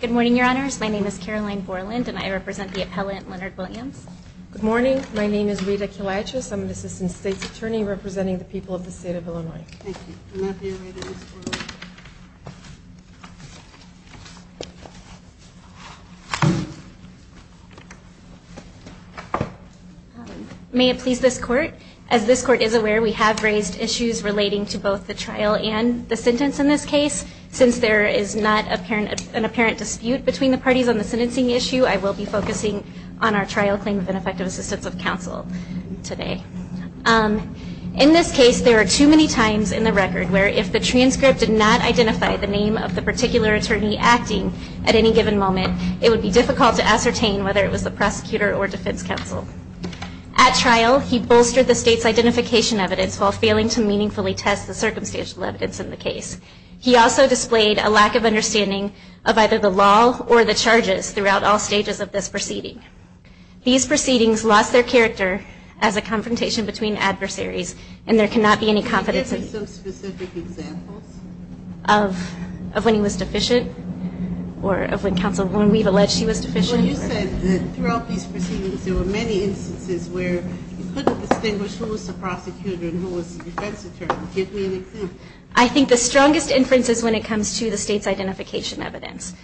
Good morning, your honors. My name is Caroline Borland, and I represent the appellant, Leonard Williams. Good morning. My name is Rita Kiliatchis. I'm an assistant state's attorney representing the people of the state of Illinois. May it please this court, as this court is aware, we have raised issues relating to both the trial and the sentence in this case. Since there is not an apparent dispute between the parties on the sentencing issue, I will be times in the record where if the transcript did not identify the name of the particular attorney acting at any given moment, it would be difficult to ascertain whether it was the prosecutor or defense counsel. At trial, he bolstered the state's identification evidence while failing to meaningfully test the circumstantial evidence in the case. He also displayed a lack of understanding of either the law or the charges throughout all stages of this proceeding. These proceedings lost their character as a confrontation between adversaries and there cannot be any confidence of when he was deficient or of when counsel, when we've alleged he was deficient. I think the strongest inference is when it comes to the state's identification evidence.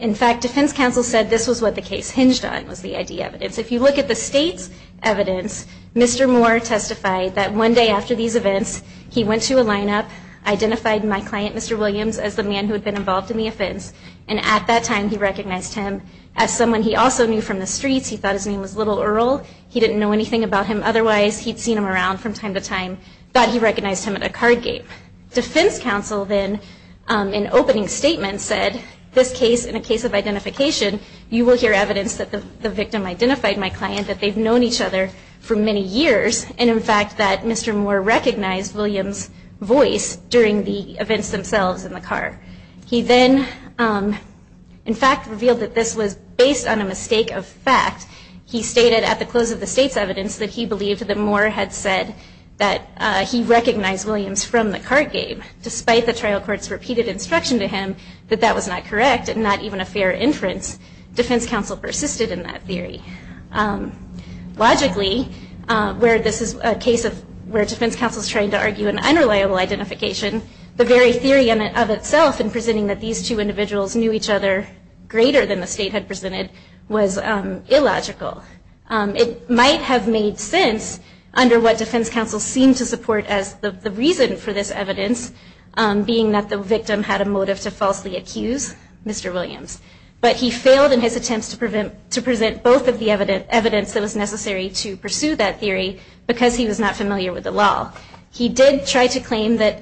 In fact, defense counsel said this was what the case hinged on was the ID evidence. If you look at the state's evidence, Mr. Moore testified that one day after these events, he went to a lineup, identified my client, Mr. Williams, as the man who had been involved in the offense. And at that time, he recognized him as someone he also knew from the streets. He thought his name was Little Earl. He didn't know anything about him. Otherwise, he'd seen him around from time to time, thought he recognized him at a card game. Defense counsel then, in opening statement, said this case, in a case of identification, you will hear evidence that the victim identified my client, that they've known each other for many years, and in fact, that Mr. Moore recognized Williams' voice during the events themselves in the car. He then, in fact, revealed that this was based on a mistake of fact. He stated at the close of the state's evidence that he believed that Moore had said that he recognized Williams from the card game, despite the trial court's repeated instruction to him that that was not correct and not even a fair inference. Defense counsel persisted in that theory. Logically, where this is a case of where defense counsel is trying to argue an unreliable identification, the very theory of itself in presenting that these two individuals knew each other greater than the state had presented was illogical. It might have made sense under what defense counsel seemed to support as the reason for this evidence, being that the victim had a motive to falsely accuse Mr. Williams. But he failed in his attempts to present both of the evidence that was necessary to pursue that theory because he was not familiar with the law. He did try to claim that,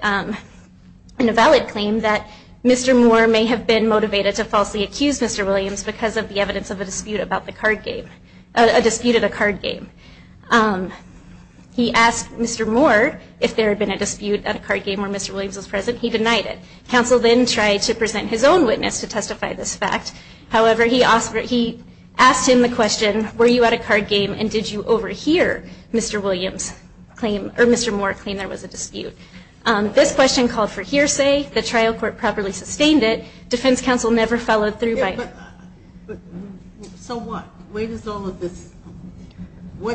in a valid claim, that Mr. Moore may have been motivated to falsely accuse Mr. Williams because of the evidence of a dispute about the card game, a dispute at a card game. He asked Mr. Moore if there had been a dispute at a card game where Mr. Williams was present. He denied it. Counsel then tried to present his own witness to testify this fact. However, he asked him the question, were you at a card game and did you overhear Mr. Moore claim there was a dispute? This question called for hearsay. The trial court properly sustained it. Defense counsel never followed through by it. But so what? What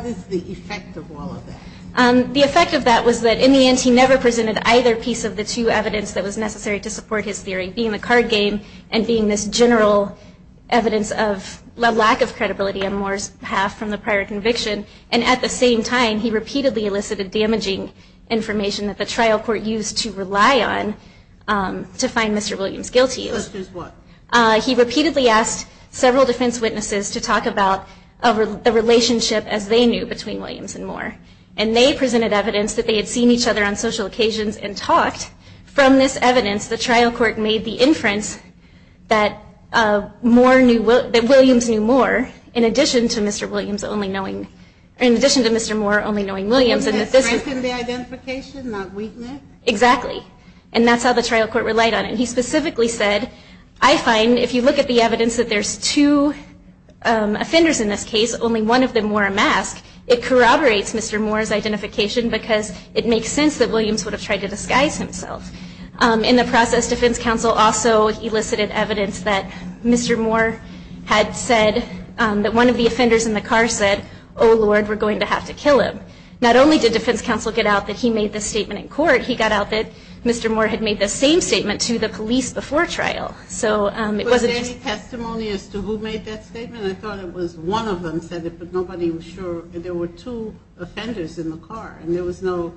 is the effect of all of that? The effect of that was that, in the end, he never presented either piece of the two evidence that was necessary to support his theory, being the card game and being this general evidence of a lack of credibility on Moore's behalf from the prior conviction. And at the same time, he repeatedly elicited damaging information that the trial court used to rely on to find Mr. Williams guilty. To accuse what? He repeatedly asked several defense witnesses to talk about the relationship, as they knew, between Williams and Moore. And they presented evidence that they had seen each other on social occasions and talked. From this evidence, the trial court made the inference that Williams knew Moore in addition to Mr. Moore only knowing Williams. And that threatened the identification, not weakness? Exactly. And that's how the trial court relied on it. He specifically said, I find, if you corroborate Mr. Moore's identification, because it makes sense that Williams would have tried to disguise himself. In the process, defense counsel also elicited evidence that Mr. Moore had said that one of the offenders in the car said, oh, Lord, we're going to have to kill him. Not only did defense counsel get out that he made this statement in court, he got out that Mr. Moore had made the same statement to the police before trial. Was there any testimony as to who made that statement? I thought it was one of them said it, but nobody was sure. There were two offenders in the car, and there was no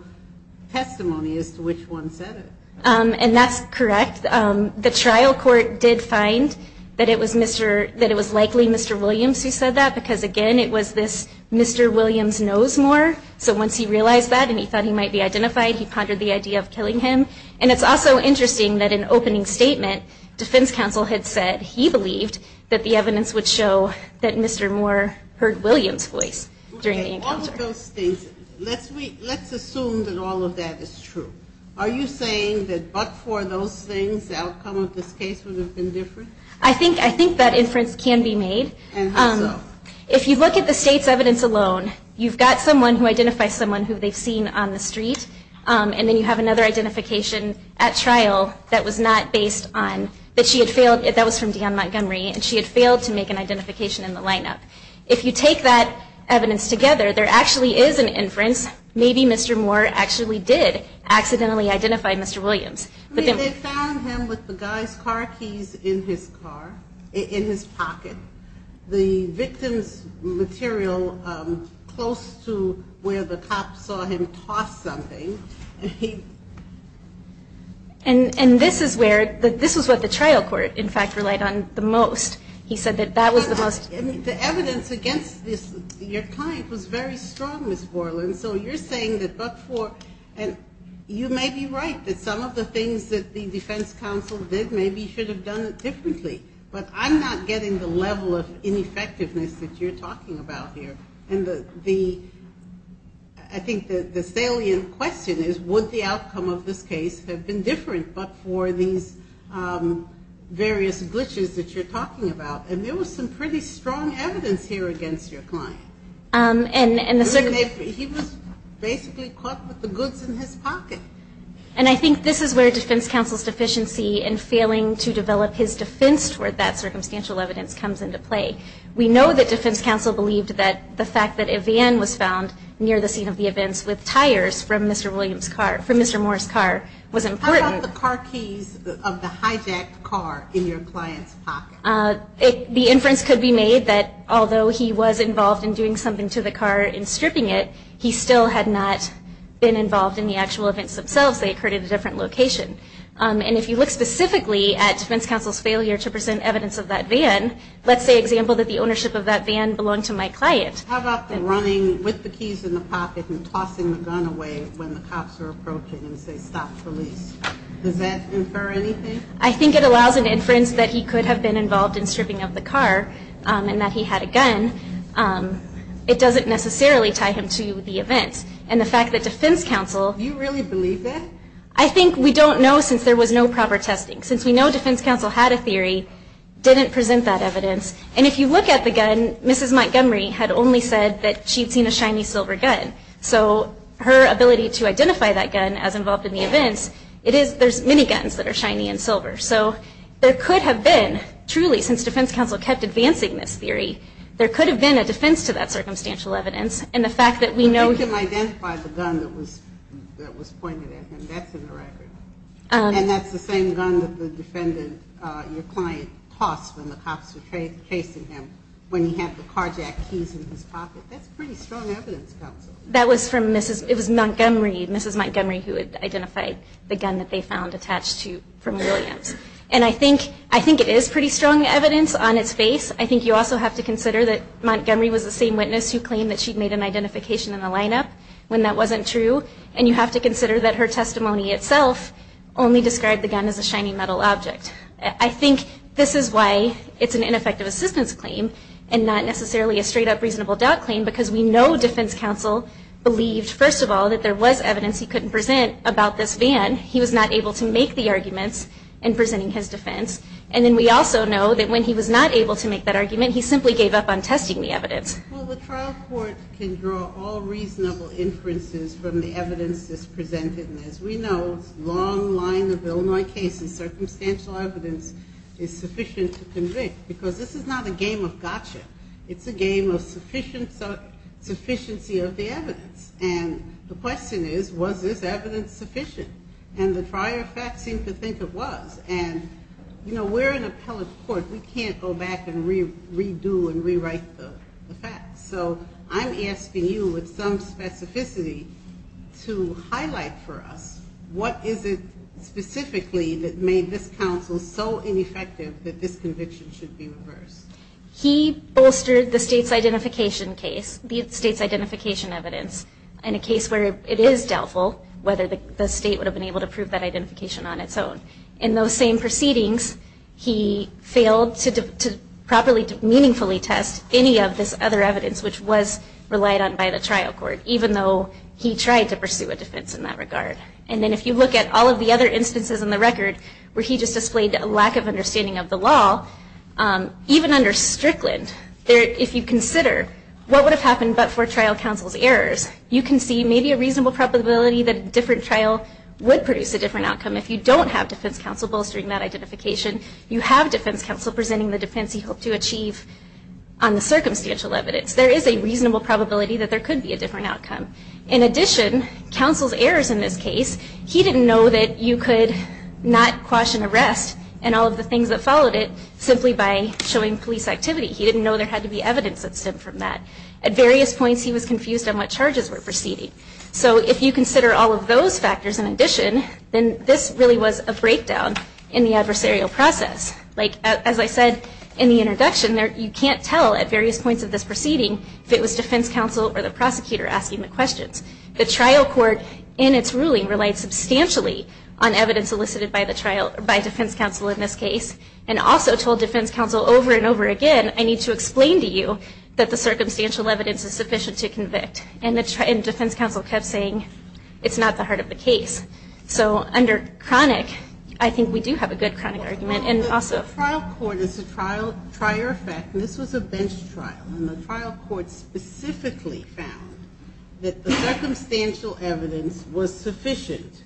testimony as to which one said it. And that's correct. The trial court did find that it was likely Mr. Williams who said that, because again, it was this Mr. Williams knows Moore. So once he realized that and he thought he might be identified, he pondered the idea of killing him. And it's also interesting that in opening statement, defense counsel had said he believed that the evidence would show that Mr. Moore heard Williams' voice during the encounter. All of those things, let's assume that all of that is true. Are you saying that but for those things, the outcome of this case would have been different? I think that inference can be made. If you look at the state's evidence alone, you've got someone who identifies someone who they've seen on the street, and then you have another identification at trial that was not based on that she had failed. That was from Dion Montgomery, and she had failed to make an identification in the lineup. If you take that evidence together, there actually is an inference. Maybe Mr. Moore actually did accidentally identify Mr. Williams. I mean, they found him with the guy's car keys in his car, in his pocket. The victim's material close to where the cop saw him tossed something. And this is what the trial court, in fact, relied on the most. He said that that was the most... I mean, the evidence against your client was very strong, Ms. Borland. So you're saying that but for... And you may be right that some of the things that the defense counsel did, maybe you should have done it differently. But I'm not getting the level of ineffectiveness that you're talking about here. And I think the salient question is, would the outcome of this case have been different but for these various glitches that you're talking about? And there was some pretty strong evidence here against your client. He was basically caught with the goods in his pocket. And I think this is where defense counsel's deficiency in failing to develop his defense case, where that circumstantial evidence comes into play. We know that defense counsel believed that the fact that a van was found near the scene of the events with tires from Mr. Williams' car, from Mr. Moore's car, was important. How about the car keys of the hijacked car in your client's pocket? The inference could be made that although he was involved in doing something to the car and stripping it, he still had not been involved in the actual events themselves. They occurred at a different location. And if you look specifically at defense counsel's failure to present evidence of that van, let's say, for example, that the ownership of that van belonged to my client. How about the running with the keys in the pocket and tossing the gun away when the cops are approaching and say, stop, police? Does that infer anything? I think it allows an inference that he could have been involved in stripping of the car and that he had a gun. It doesn't necessarily tie him to the events. And the fact that defense counsel... Do you really believe that? I think we don't know since there was no proper testing. Since we know defense counsel had a theory, didn't present that evidence. And if you look at the gun, Mrs. Montgomery had only said that she'd seen a shiny silver gun. So her ability to identify that gun as involved in the events, there's many guns that are shiny and silver. So there could have been, truly, since defense counsel kept advancing this theory, there could have been a defense to that circumstantial evidence. And the fact that we know... You can identify the gun that was pointed at him. That's in the record. And that's the same gun that the defendant, your client, tossed when the cops were chasing him when he had the carjack keys in his pocket. That's pretty strong evidence, counsel. That was from Mrs. Montgomery. Mrs. Montgomery who had identified the gun that they found attached to... from Williams. And I think it is pretty strong evidence on its face. I think you also have to consider that Montgomery was the same witness who claimed that she'd made an identification in the lineup when that wasn't true. And you have to consider that her testimony itself only described the gun as a shiny metal object. I think this is why it's an ineffective assistance claim and not necessarily a straight-up reasonable doubt claim, because we know defense counsel believed, first of all, that there was evidence he couldn't present about this van. He was not able to make the arguments in presenting his defense. And then we also know that when he was not able to make that argument, he simply gave up on testing the evidence. Well, the trial court can draw all reasonable inferences from the evidence that's presented. And as we know, it's a long line of Illinois cases. Circumstantial evidence is sufficient to convict, because this is not a game of gotcha. It's a game of sufficiency of the evidence. And the question is, was this evidence sufficient? And the prior facts seem to think it was. And, you know, we're an appellate court. We can't go back and redo and rewrite the facts. So I'm asking you, with some specificity, to highlight for us, what is it specifically that made this counsel so ineffective that this conviction should be reversed? He bolstered the state's identification case, the state's identification evidence, in a case where it is doubtful whether the state would have been able to prove that identification on its own. In those same proceedings, he failed to properly, meaningfully test any of this other evidence, which was relied on by the trial court, even though he tried to pursue a defense in that regard. And then if you look at all of the other instances in the record where he just displayed a lack of understanding of the law, even under Strickland, if you consider what would have happened but for trial counsel's errors, you can see maybe a reasonable probability that a different trial would produce a different outcome. If you don't have defense counsel bolstering that identification, you have defense counsel presenting the defense he hoped to achieve on the circumstantial evidence. There is a reasonable probability that there could be a different outcome. In addition, counsel's errors in this case, he didn't know that you could not quash an arrest and all of the things that followed it simply by showing police activity. He didn't know there had to be evidence that stemmed from that. At various points, he was confused on what charges were proceeding. So if you consider all of those factors in addition, then this really was a breakdown in the adversarial process. Like as I said in the introduction, you can't tell at various points of this proceeding if it was defense counsel or the prosecutor asking the questions. The trial court, in its ruling, relied substantially on evidence solicited by defense counsel in this case, and also told defense counsel over and over again, I need to explain to you that the circumstantial evidence is sufficient to convict. And defense counsel kept saying, it's not the heart of the case. So under chronic, I think we do have a good chronic argument. And also- The trial court, as a prior fact, and this was a bench trial, and the trial court specifically found that the circumstantial evidence was sufficient,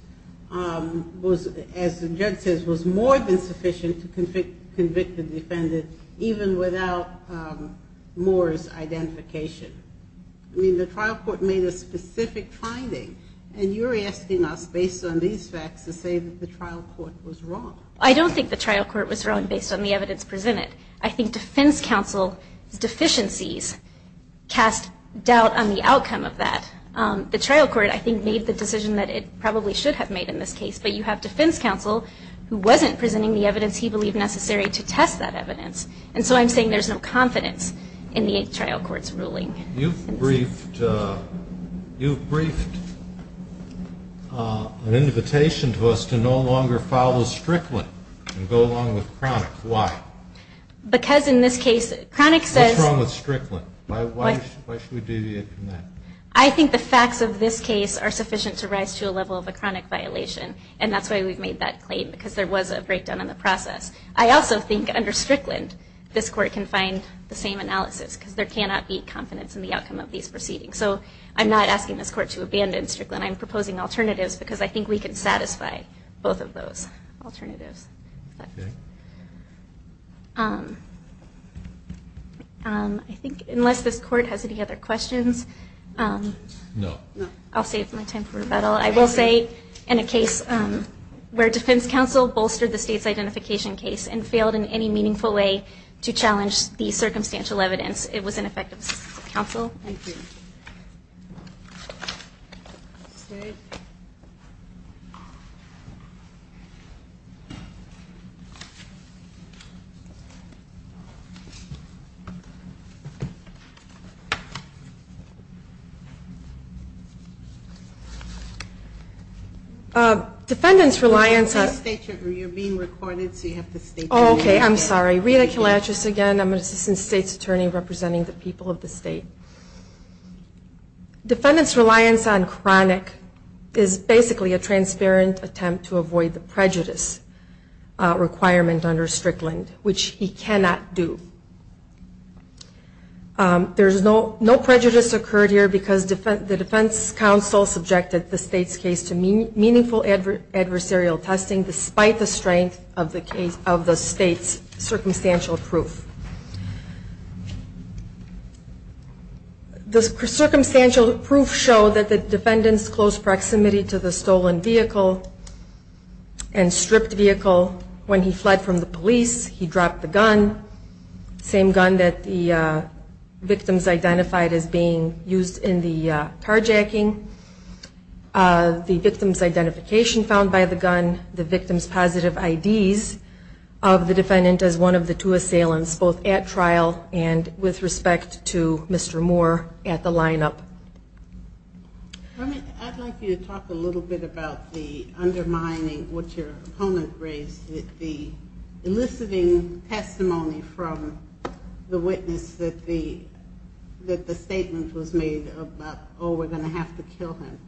as the judge says, was more than sufficient to convict the defendant, even without Moore's identification. I mean, the trial court made a specific finding, and you're asking us, based on these facts, to say that the trial court was wrong. I don't think the trial court was wrong based on the evidence presented. I think defense counsel's deficiencies cast doubt on the outcome of that. The trial court, I think, made the decision that it probably should have made in this case. But you have defense counsel who wasn't presenting the evidence he believed necessary to test that evidence. And so I'm saying there's no confidence in the trial court's ruling. You've briefed, you've briefed an invitation to us to no longer follow Strickland and go along with chronic. Why? Because in this case, chronic says- What's wrong with Strickland? Why should we deviate from that? I think the facts of this case are sufficient to rise to a level of a chronic violation. And that's why we've made that claim, because there was a breakdown in the process. I also think under Strickland, this court can find the same analysis, because there cannot be confidence in the outcome of these proceedings. So I'm not asking this court to abandon Strickland. I'm proposing alternatives, because I think we can satisfy both of those alternatives. I think, unless this court has any other questions, I'll save my time for rebuttal. I will say, in a case where defense counsel bolstered the state's identification case and failed in any meaningful way to challenge the circumstantial evidence, it was ineffective. Defendant's reliance on- You're being recorded, so you have to state your name. Okay, I'm sorry. Rita Kalachis again. I'm an assistant state's attorney representing the people of the state. Defendant's reliance on chronic is basically a transparent attempt to avoid the prejudice requirement under Strickland, which he cannot do. There's no prejudice occurred here, because the defense counsel subjected the state's case to meaningful adversarial testing, despite the strength of the state's circumstantial proof. The circumstantial proof showed that the defendant's close proximity to the stolen vehicle and stripped vehicle when he fled from the police, he dropped the gun, same gun that the victims identified as being used in the carjacking, the victim's identification found by the gun, the victim's positive IDs of the defendant as one of the two assailants, both at trial and with respect to Mr. Moore at the line-up. I'd like you to talk a little bit about the undermining, what your opponent raised, the eliciting testimony from the witness that the statement was made about, oh, we're going to have to kill him.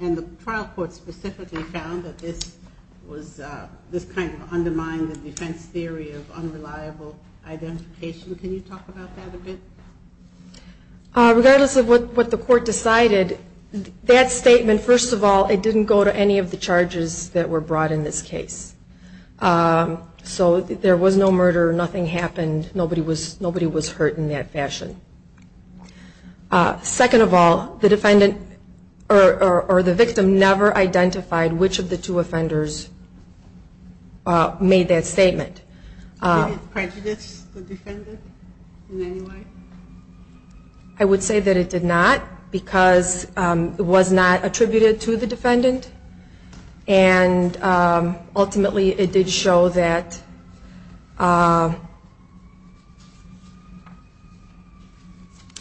And the trial court specifically found that this was, this kind of undermined the defense theory of unreliable identification. Can you talk about that a bit? Regardless of what the court decided, that statement, first of all, it didn't go to any of the charges that were brought in this case. So there was no murder, nothing happened, nobody was hurt in that fashion. Second of all, the defendant or the victim never identified which of the two offenders made that statement. Did it prejudice the defendant in any way? I would say that it did not, because it was not attributed to the defendant, and ultimately it did show that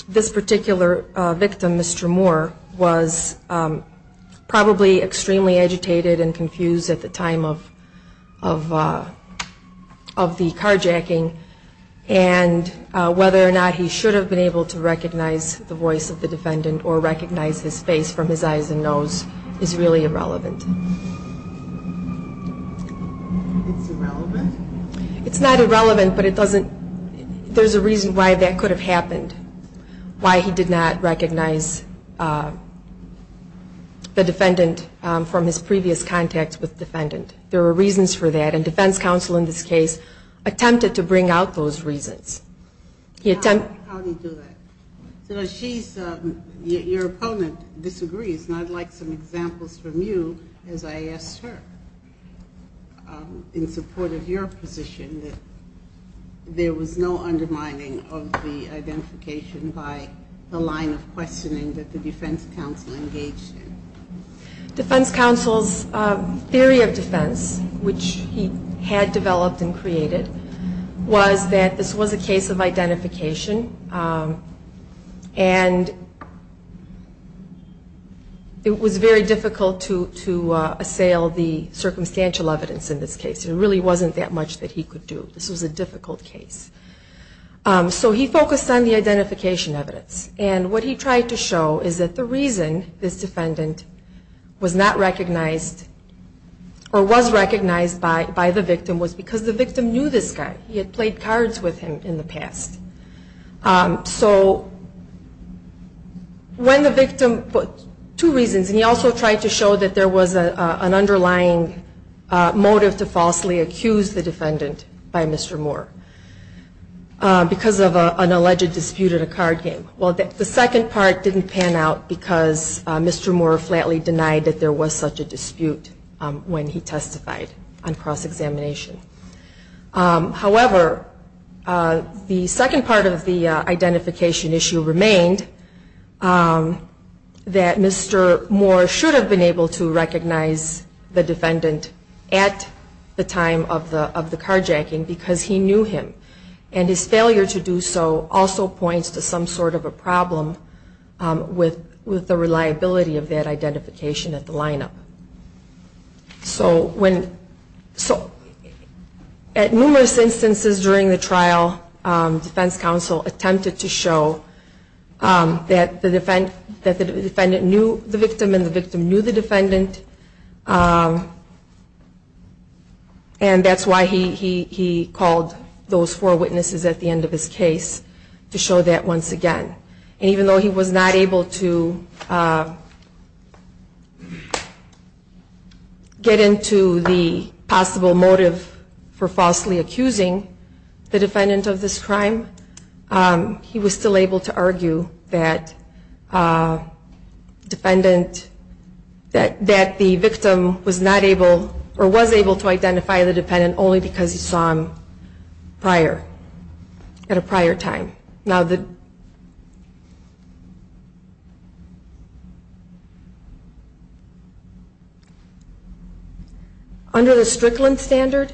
this particular victim, Mr. Moore, was probably extremely agitated and confused at the time of the carjacking, and whether or not he should have done that. Whether or not he should have been able to recognize the voice of the defendant or recognize his face from his eyes and nose is really irrelevant. It's irrelevant? It's not irrelevant, but it doesn't, there's a reason why that could have happened, why he did not recognize the defendant from his previous contacts with the defendant. There was no undermining of the identification by the line of questioning that the defense counsel engaged in. Defense counsel's theory of defense, which he had developed and created, was that this was a very difficult case, and it was very difficult to assail the circumstantial evidence in this case. There really wasn't that much that he could do. This was a difficult case. So he focused on the identification evidence, and what he tried to show is that the reason this defendant was not recognized or was recognized by the victim was because the victim knew this guy. He had played cards with him in the past. So when the victim, two reasons, and he also tried to show that there was an underlying motive to falsely accuse the defendant by Mr. Moore, because of an alleged dispute at a card game. Well, the second part didn't pan out because Mr. Moore flatly denied that there was such a dispute when he testified on cross-examination. However, the second part of the identification issue remained that Mr. Moore should have been able to recognize the defendant at the time of the carjacking because he knew him, and his failure to do so also points to some sort of a problem with the reliability of that lineup. At numerous instances during the trial, defense counsel attempted to show that the defendant knew the victim and the victim knew the defendant, and that's why he called those four witnesses at the end of his case to show that once again. And even though he was not able to get into the possible motive for falsely accusing the defendant of this crime, he was still able to argue that defendant, that the victim was not able, or was able to identify the defendant only because he saw him prior, at a prior time. Under the Strickland standard,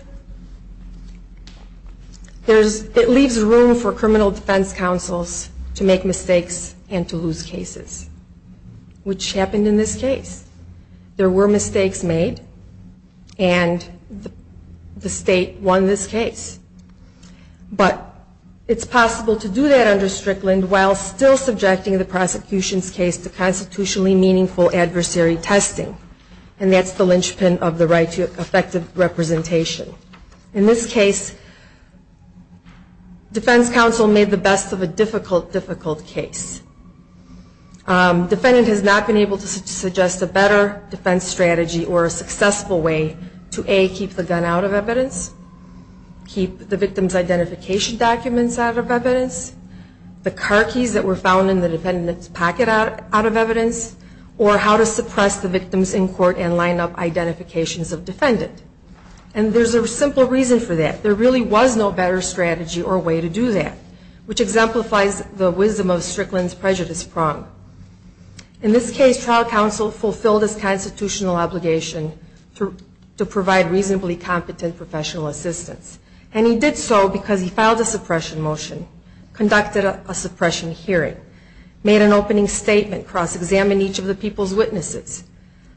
it leaves room for criminal defense counsels to make mistakes and to lose cases, which happened in this case. There were mistakes made, and the state won this It's possible to do that under Strickland while still subjecting the prosecution's case to constitutionally meaningful adversary testing, and that's the linchpin of the right to effective representation. In this case, defense counsel made the best of a difficult, difficult case. He did so because he filed a suppression motion, and he did so because he felt that there was no better strategy or way to do that, which exemplifies the wisdom of Strickland's prejudice prong. In this case, trial counsel fulfilled his constitutional obligation to provide reasonably competent professional assistance, and he did so because he filed a suppression motion, conducted a suppression hearing, made an opening statement, cross-examined each of the people's witnesses,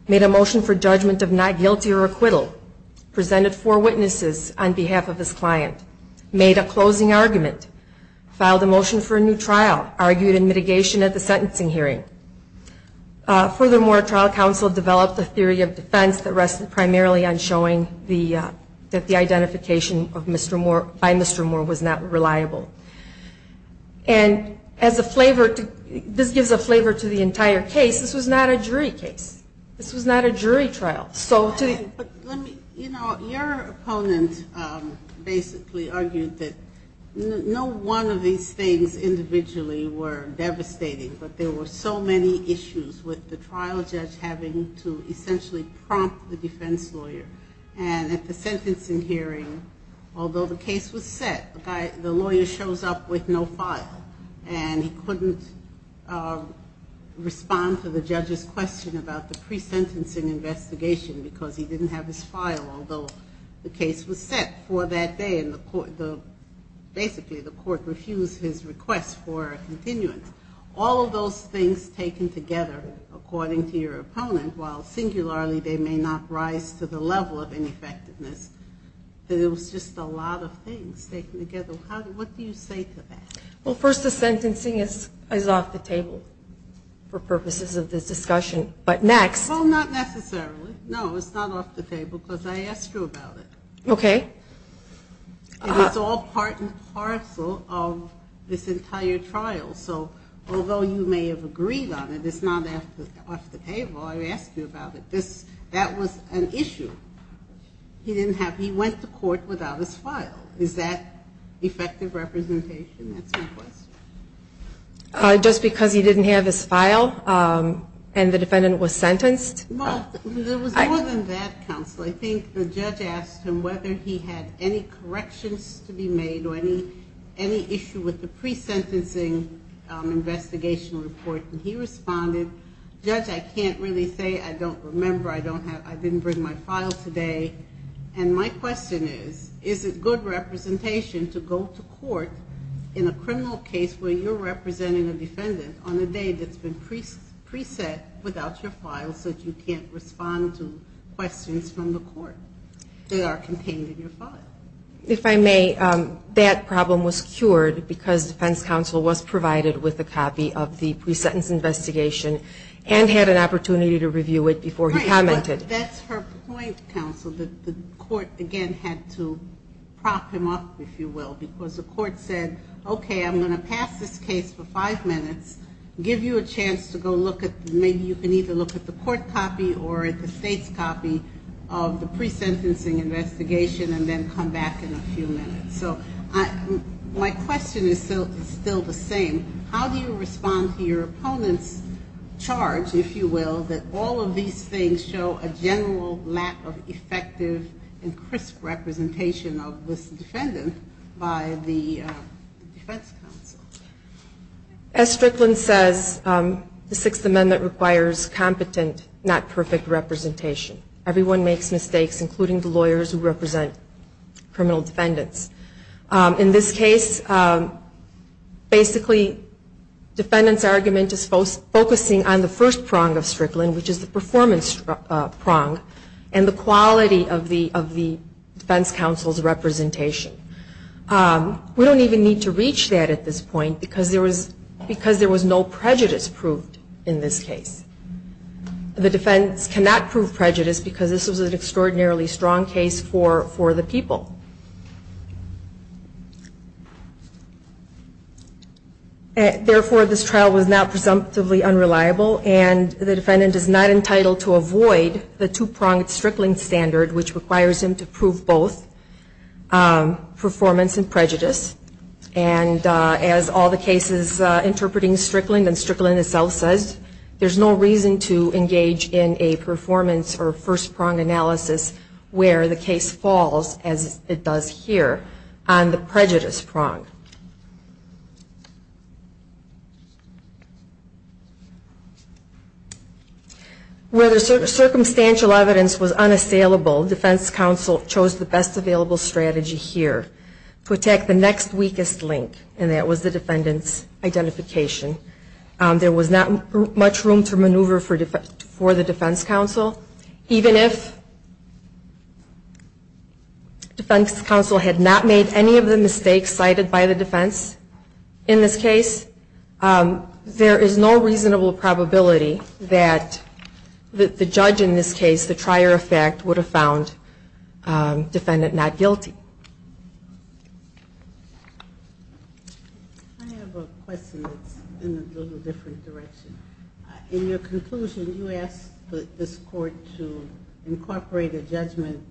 made a motion for judgment of not guilty or acquittal, presented four witnesses on behalf of his client, made a closing argument, filed a motion for a new trial, argued in mitigation at the sentencing hearing. Furthermore, trial counsel developed a theory of defense that rested primarily on showing that the defendant was guilty, and this gives a flavor to the entire case. This was not a jury case. This was not a jury trial. Your opponent basically argued that no one of these things individually were devastating, but there were so many issues with the trial judge having to essentially prompt the defense lawyer, and at the sentencing hearing, although the case was set, the lawyer shows up with no file, and he couldn't respond to the judge's question about the pre-sentencing investigation because he didn't have his file, although the case was set for that day, and basically the court refused his request for a continuance. All of those things taken together, according to your opponent, while singularly they may not rise to the challenge, they're just a lot of things taken together. What do you say to that? Well, first the sentencing is off the table for purposes of this discussion, but next... Well, not necessarily. No, it's not off the table because I asked you about it. Okay. It's all part and parcel of this entire trial, so although you may have agreed on it, it's not off the table. I asked you about it. That was an issue. He went to court without his file. Is that effective representation? That's my question. Just because he didn't have his file and the defendant was sentenced? Well, there was more than that, counsel. I think the judge asked him whether he had any corrections to be made or any issue with the pre-sentencing investigation report, and he responded, Judge, I can't really say. I don't remember. I didn't bring my file today, and my question is, is it good representation to go to court in a criminal case where you're representing a defendant on a day that's been pre-sent without your file so that you can't respond to questions from the court that are contained in your file? If I may, that problem was cured because defense counsel was provided with a copy of the pre-sentence investigation and had an opportunity to review it before he commented. Right, but that's her point, counsel, that the court again had to prop him up, if you will, because the court said, okay, I'm going to pass this case for five minutes, give you a chance to go look at, maybe you can either look at the court copy or at the state's copy of the pre-sentencing investigation and then come back in a few minutes. So my question is still the same. How do you respond to your opponent's charge, if you will, that all of these things show a general lack of effective and crisp representation of this defendant by the court? As Strickland says, the Sixth Amendment requires competent, not perfect representation. Everyone makes mistakes, including the lawyers who represent criminal defendants. In this case, basically, defendant's argument is focusing on the first prong of Strickland, which is the performance prong, and the quality of the defense counsel's representation. We don't even need to reach that at this point, because there was no prejudice proved in this case. The defense cannot prove prejudice, because this was an extraordinarily strong case for the people. Therefore, this trial was not presumptively unreliable, and the defendant is not entitled to avoid the two-pronged analysis, which is the Strickland standard, which requires him to prove both performance and prejudice. And as all the cases interpreting Strickland and Strickland itself says, there's no reason to engage in a performance or first-pronged analysis where the case falls, as it does here, on the prejudice prong. Where the circumstantial evidence was unassailable, defense counsel chose the best available strategy here, to attack the next weakest link, and that was the defendant's identification. There was not much room to maneuver for the defense counsel, even if defense counsel had not made any of the mistakes cited by the defense in this case. There is no reasonable probability that the judge in this case, the trier of fact, would have found defendant not guilty. I have a question that's in a little different direction. In your conclusion, you asked this Court to incorporate a judgment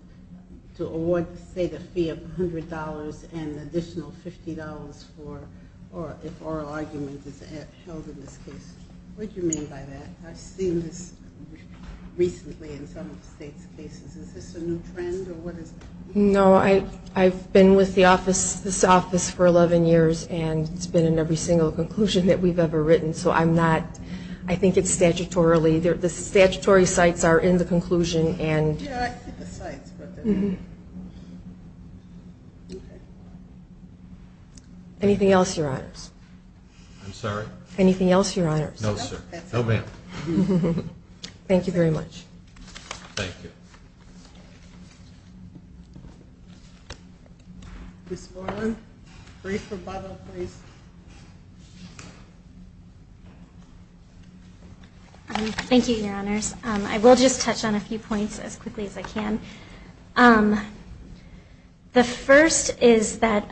to award, say, the fee of $100 and additional charges. I'm not sure what you mean by that. I've seen this recently in some of the state's cases. Is this a new trend, or what is it? No, I've been with this office for 11 years, and it's been in every single conclusion that we've ever written, so I'm not, I think it's statutorily, the statutory sites are in the conclusion. Anything else, Your Honors? No, ma'am. Thank you very much. Ms. Moreland, brief rebuttal, please. Thank you, Your Honors. I will just touch on a few points as quickly as I can. The first is that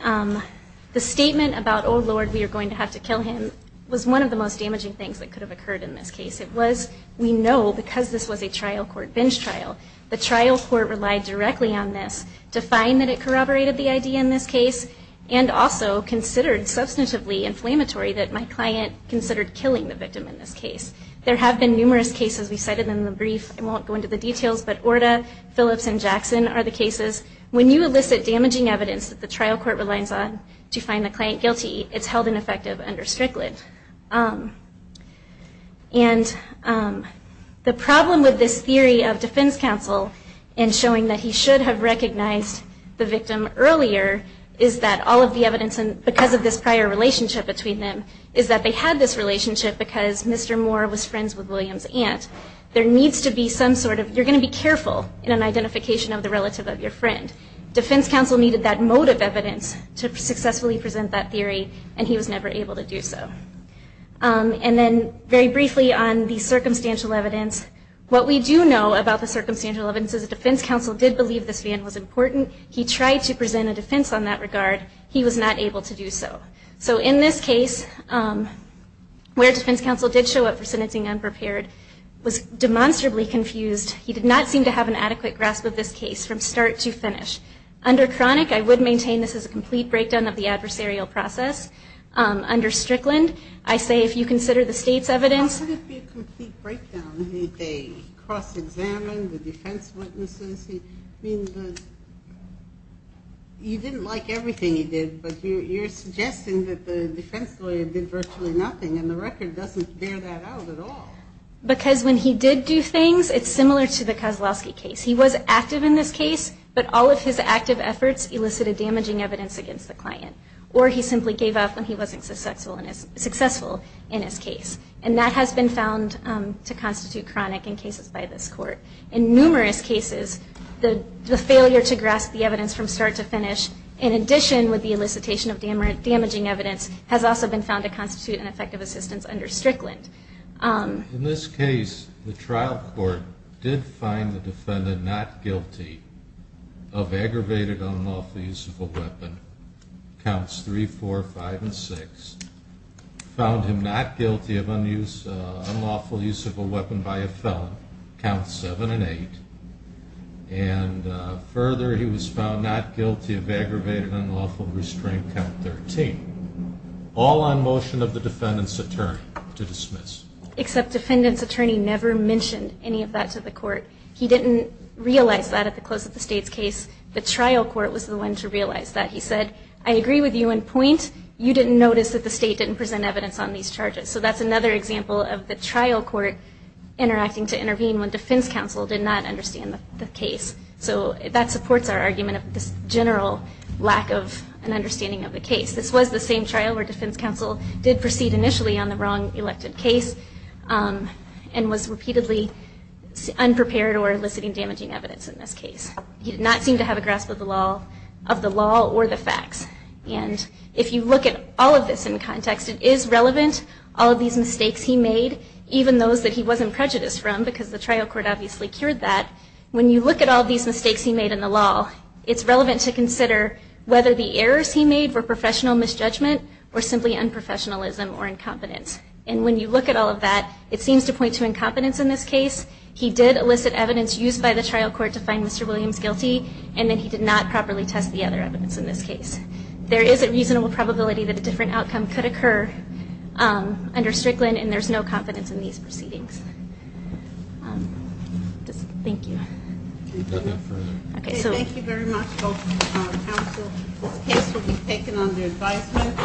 the statement about, oh, Lord, we are going to have to kill him, was one of the most damaging things that could have occurred in this case. It was, we know, because this was a trial court binge trial, the trial court relied directly on this to find that it corroborated the idea in this case, and also considered substantively inflammatory that my client considered killing the victim in this case. There have been numerous cases, we cited them in the brief, I won't go into the details, but Orta, Phillips, and Jackson are the cases. When you elicit damaging evidence that the trial court relies on to find the client guilty, it's held ineffective under Strickland. And the problem with this theory of defense counsel in showing that he should have recognized the victim earlier, is that all of the evidence, and because of this prior relationship between them, is that they had this relationship because Mr. Moore was friends with William's aunt. There needs to be some sort of, you're going to be careful in an identification of the relative of your friend. Defense counsel needed that mode of evidence to successfully present that theory, and he was never able to do so. And then, very briefly on the circumstantial evidence, what we do know about the circumstantial evidence is that defense counsel did believe this man was guilty, but he was never able to do so. So in this case, where defense counsel did show up for sentencing unprepared, was demonstrably confused, he did not seem to have an adequate grasp of this case from start to finish. Under Cronic, I would maintain this is a complete breakdown of the adversarial process. Under Strickland, I say if you consider the state's evidence... Well, how could it be a complete breakdown? Did they cross-examine the defense witnesses? I mean, you didn't like everything he did, but you're suggesting that the defense lawyer did virtually nothing, and the record doesn't bear that out at all. Because when he did do things, it's similar to the Kozlowski case. He was active in this case, but all of his active efforts elicited damaging evidence against the client. Or he simply gave up when he wasn't successful in his case. And that has been found to constitute Cronic in cases by this Court. In numerous cases, the failure to grasp the evidence from start to finish, in addition with the elicitation of damaging evidence, has also been found to constitute an effective assistance under Strickland. In this case, the trial court did find the defendant not guilty of aggravated unlawful use of a weapon, counts 3, 4, 5, and 6. Found him not guilty of aggravated unlawful use of a weapon, counts 7 and 8. And further, he was found not guilty of aggravated unlawful restraint, count 13. All on motion of the defendant's attorney to dismiss. Except defendant's attorney never mentioned any of that to the Court. He didn't realize that at the close of the state's case. The trial court was the one to realize that. He said, I agree with you in point, you didn't notice that the state didn't present evidence on these charges. So that's another example of the case. The defense counsel did not understand the case. So that supports our argument of this general lack of an understanding of the case. This was the same trial where defense counsel did proceed initially on the wrong elected case and was repeatedly unprepared or eliciting damaging evidence in this case. He did not seem to have a grasp of the law or the facts. And if you look at all of this in context, it is relevant, all of these mistakes he made, even those that he wasn't prejudiced from because the trial court obviously cured that, when you look at all of these mistakes he made in the law, it's relevant to consider whether the errors he made were professional misjudgment or simply unprofessionalism or incompetence. And when you look at all of that, it seems to point to incompetence in this case. He did elicit evidence used by the trial court to find Mr. Williams guilty, and then he did not properly test the other evidence in this case. There is a reasonable probability that a different outcome could occur under Strickland, and there's no confidence in these proceedings. Thank you. Thank you very much both counsel. This case will be taken under advisement.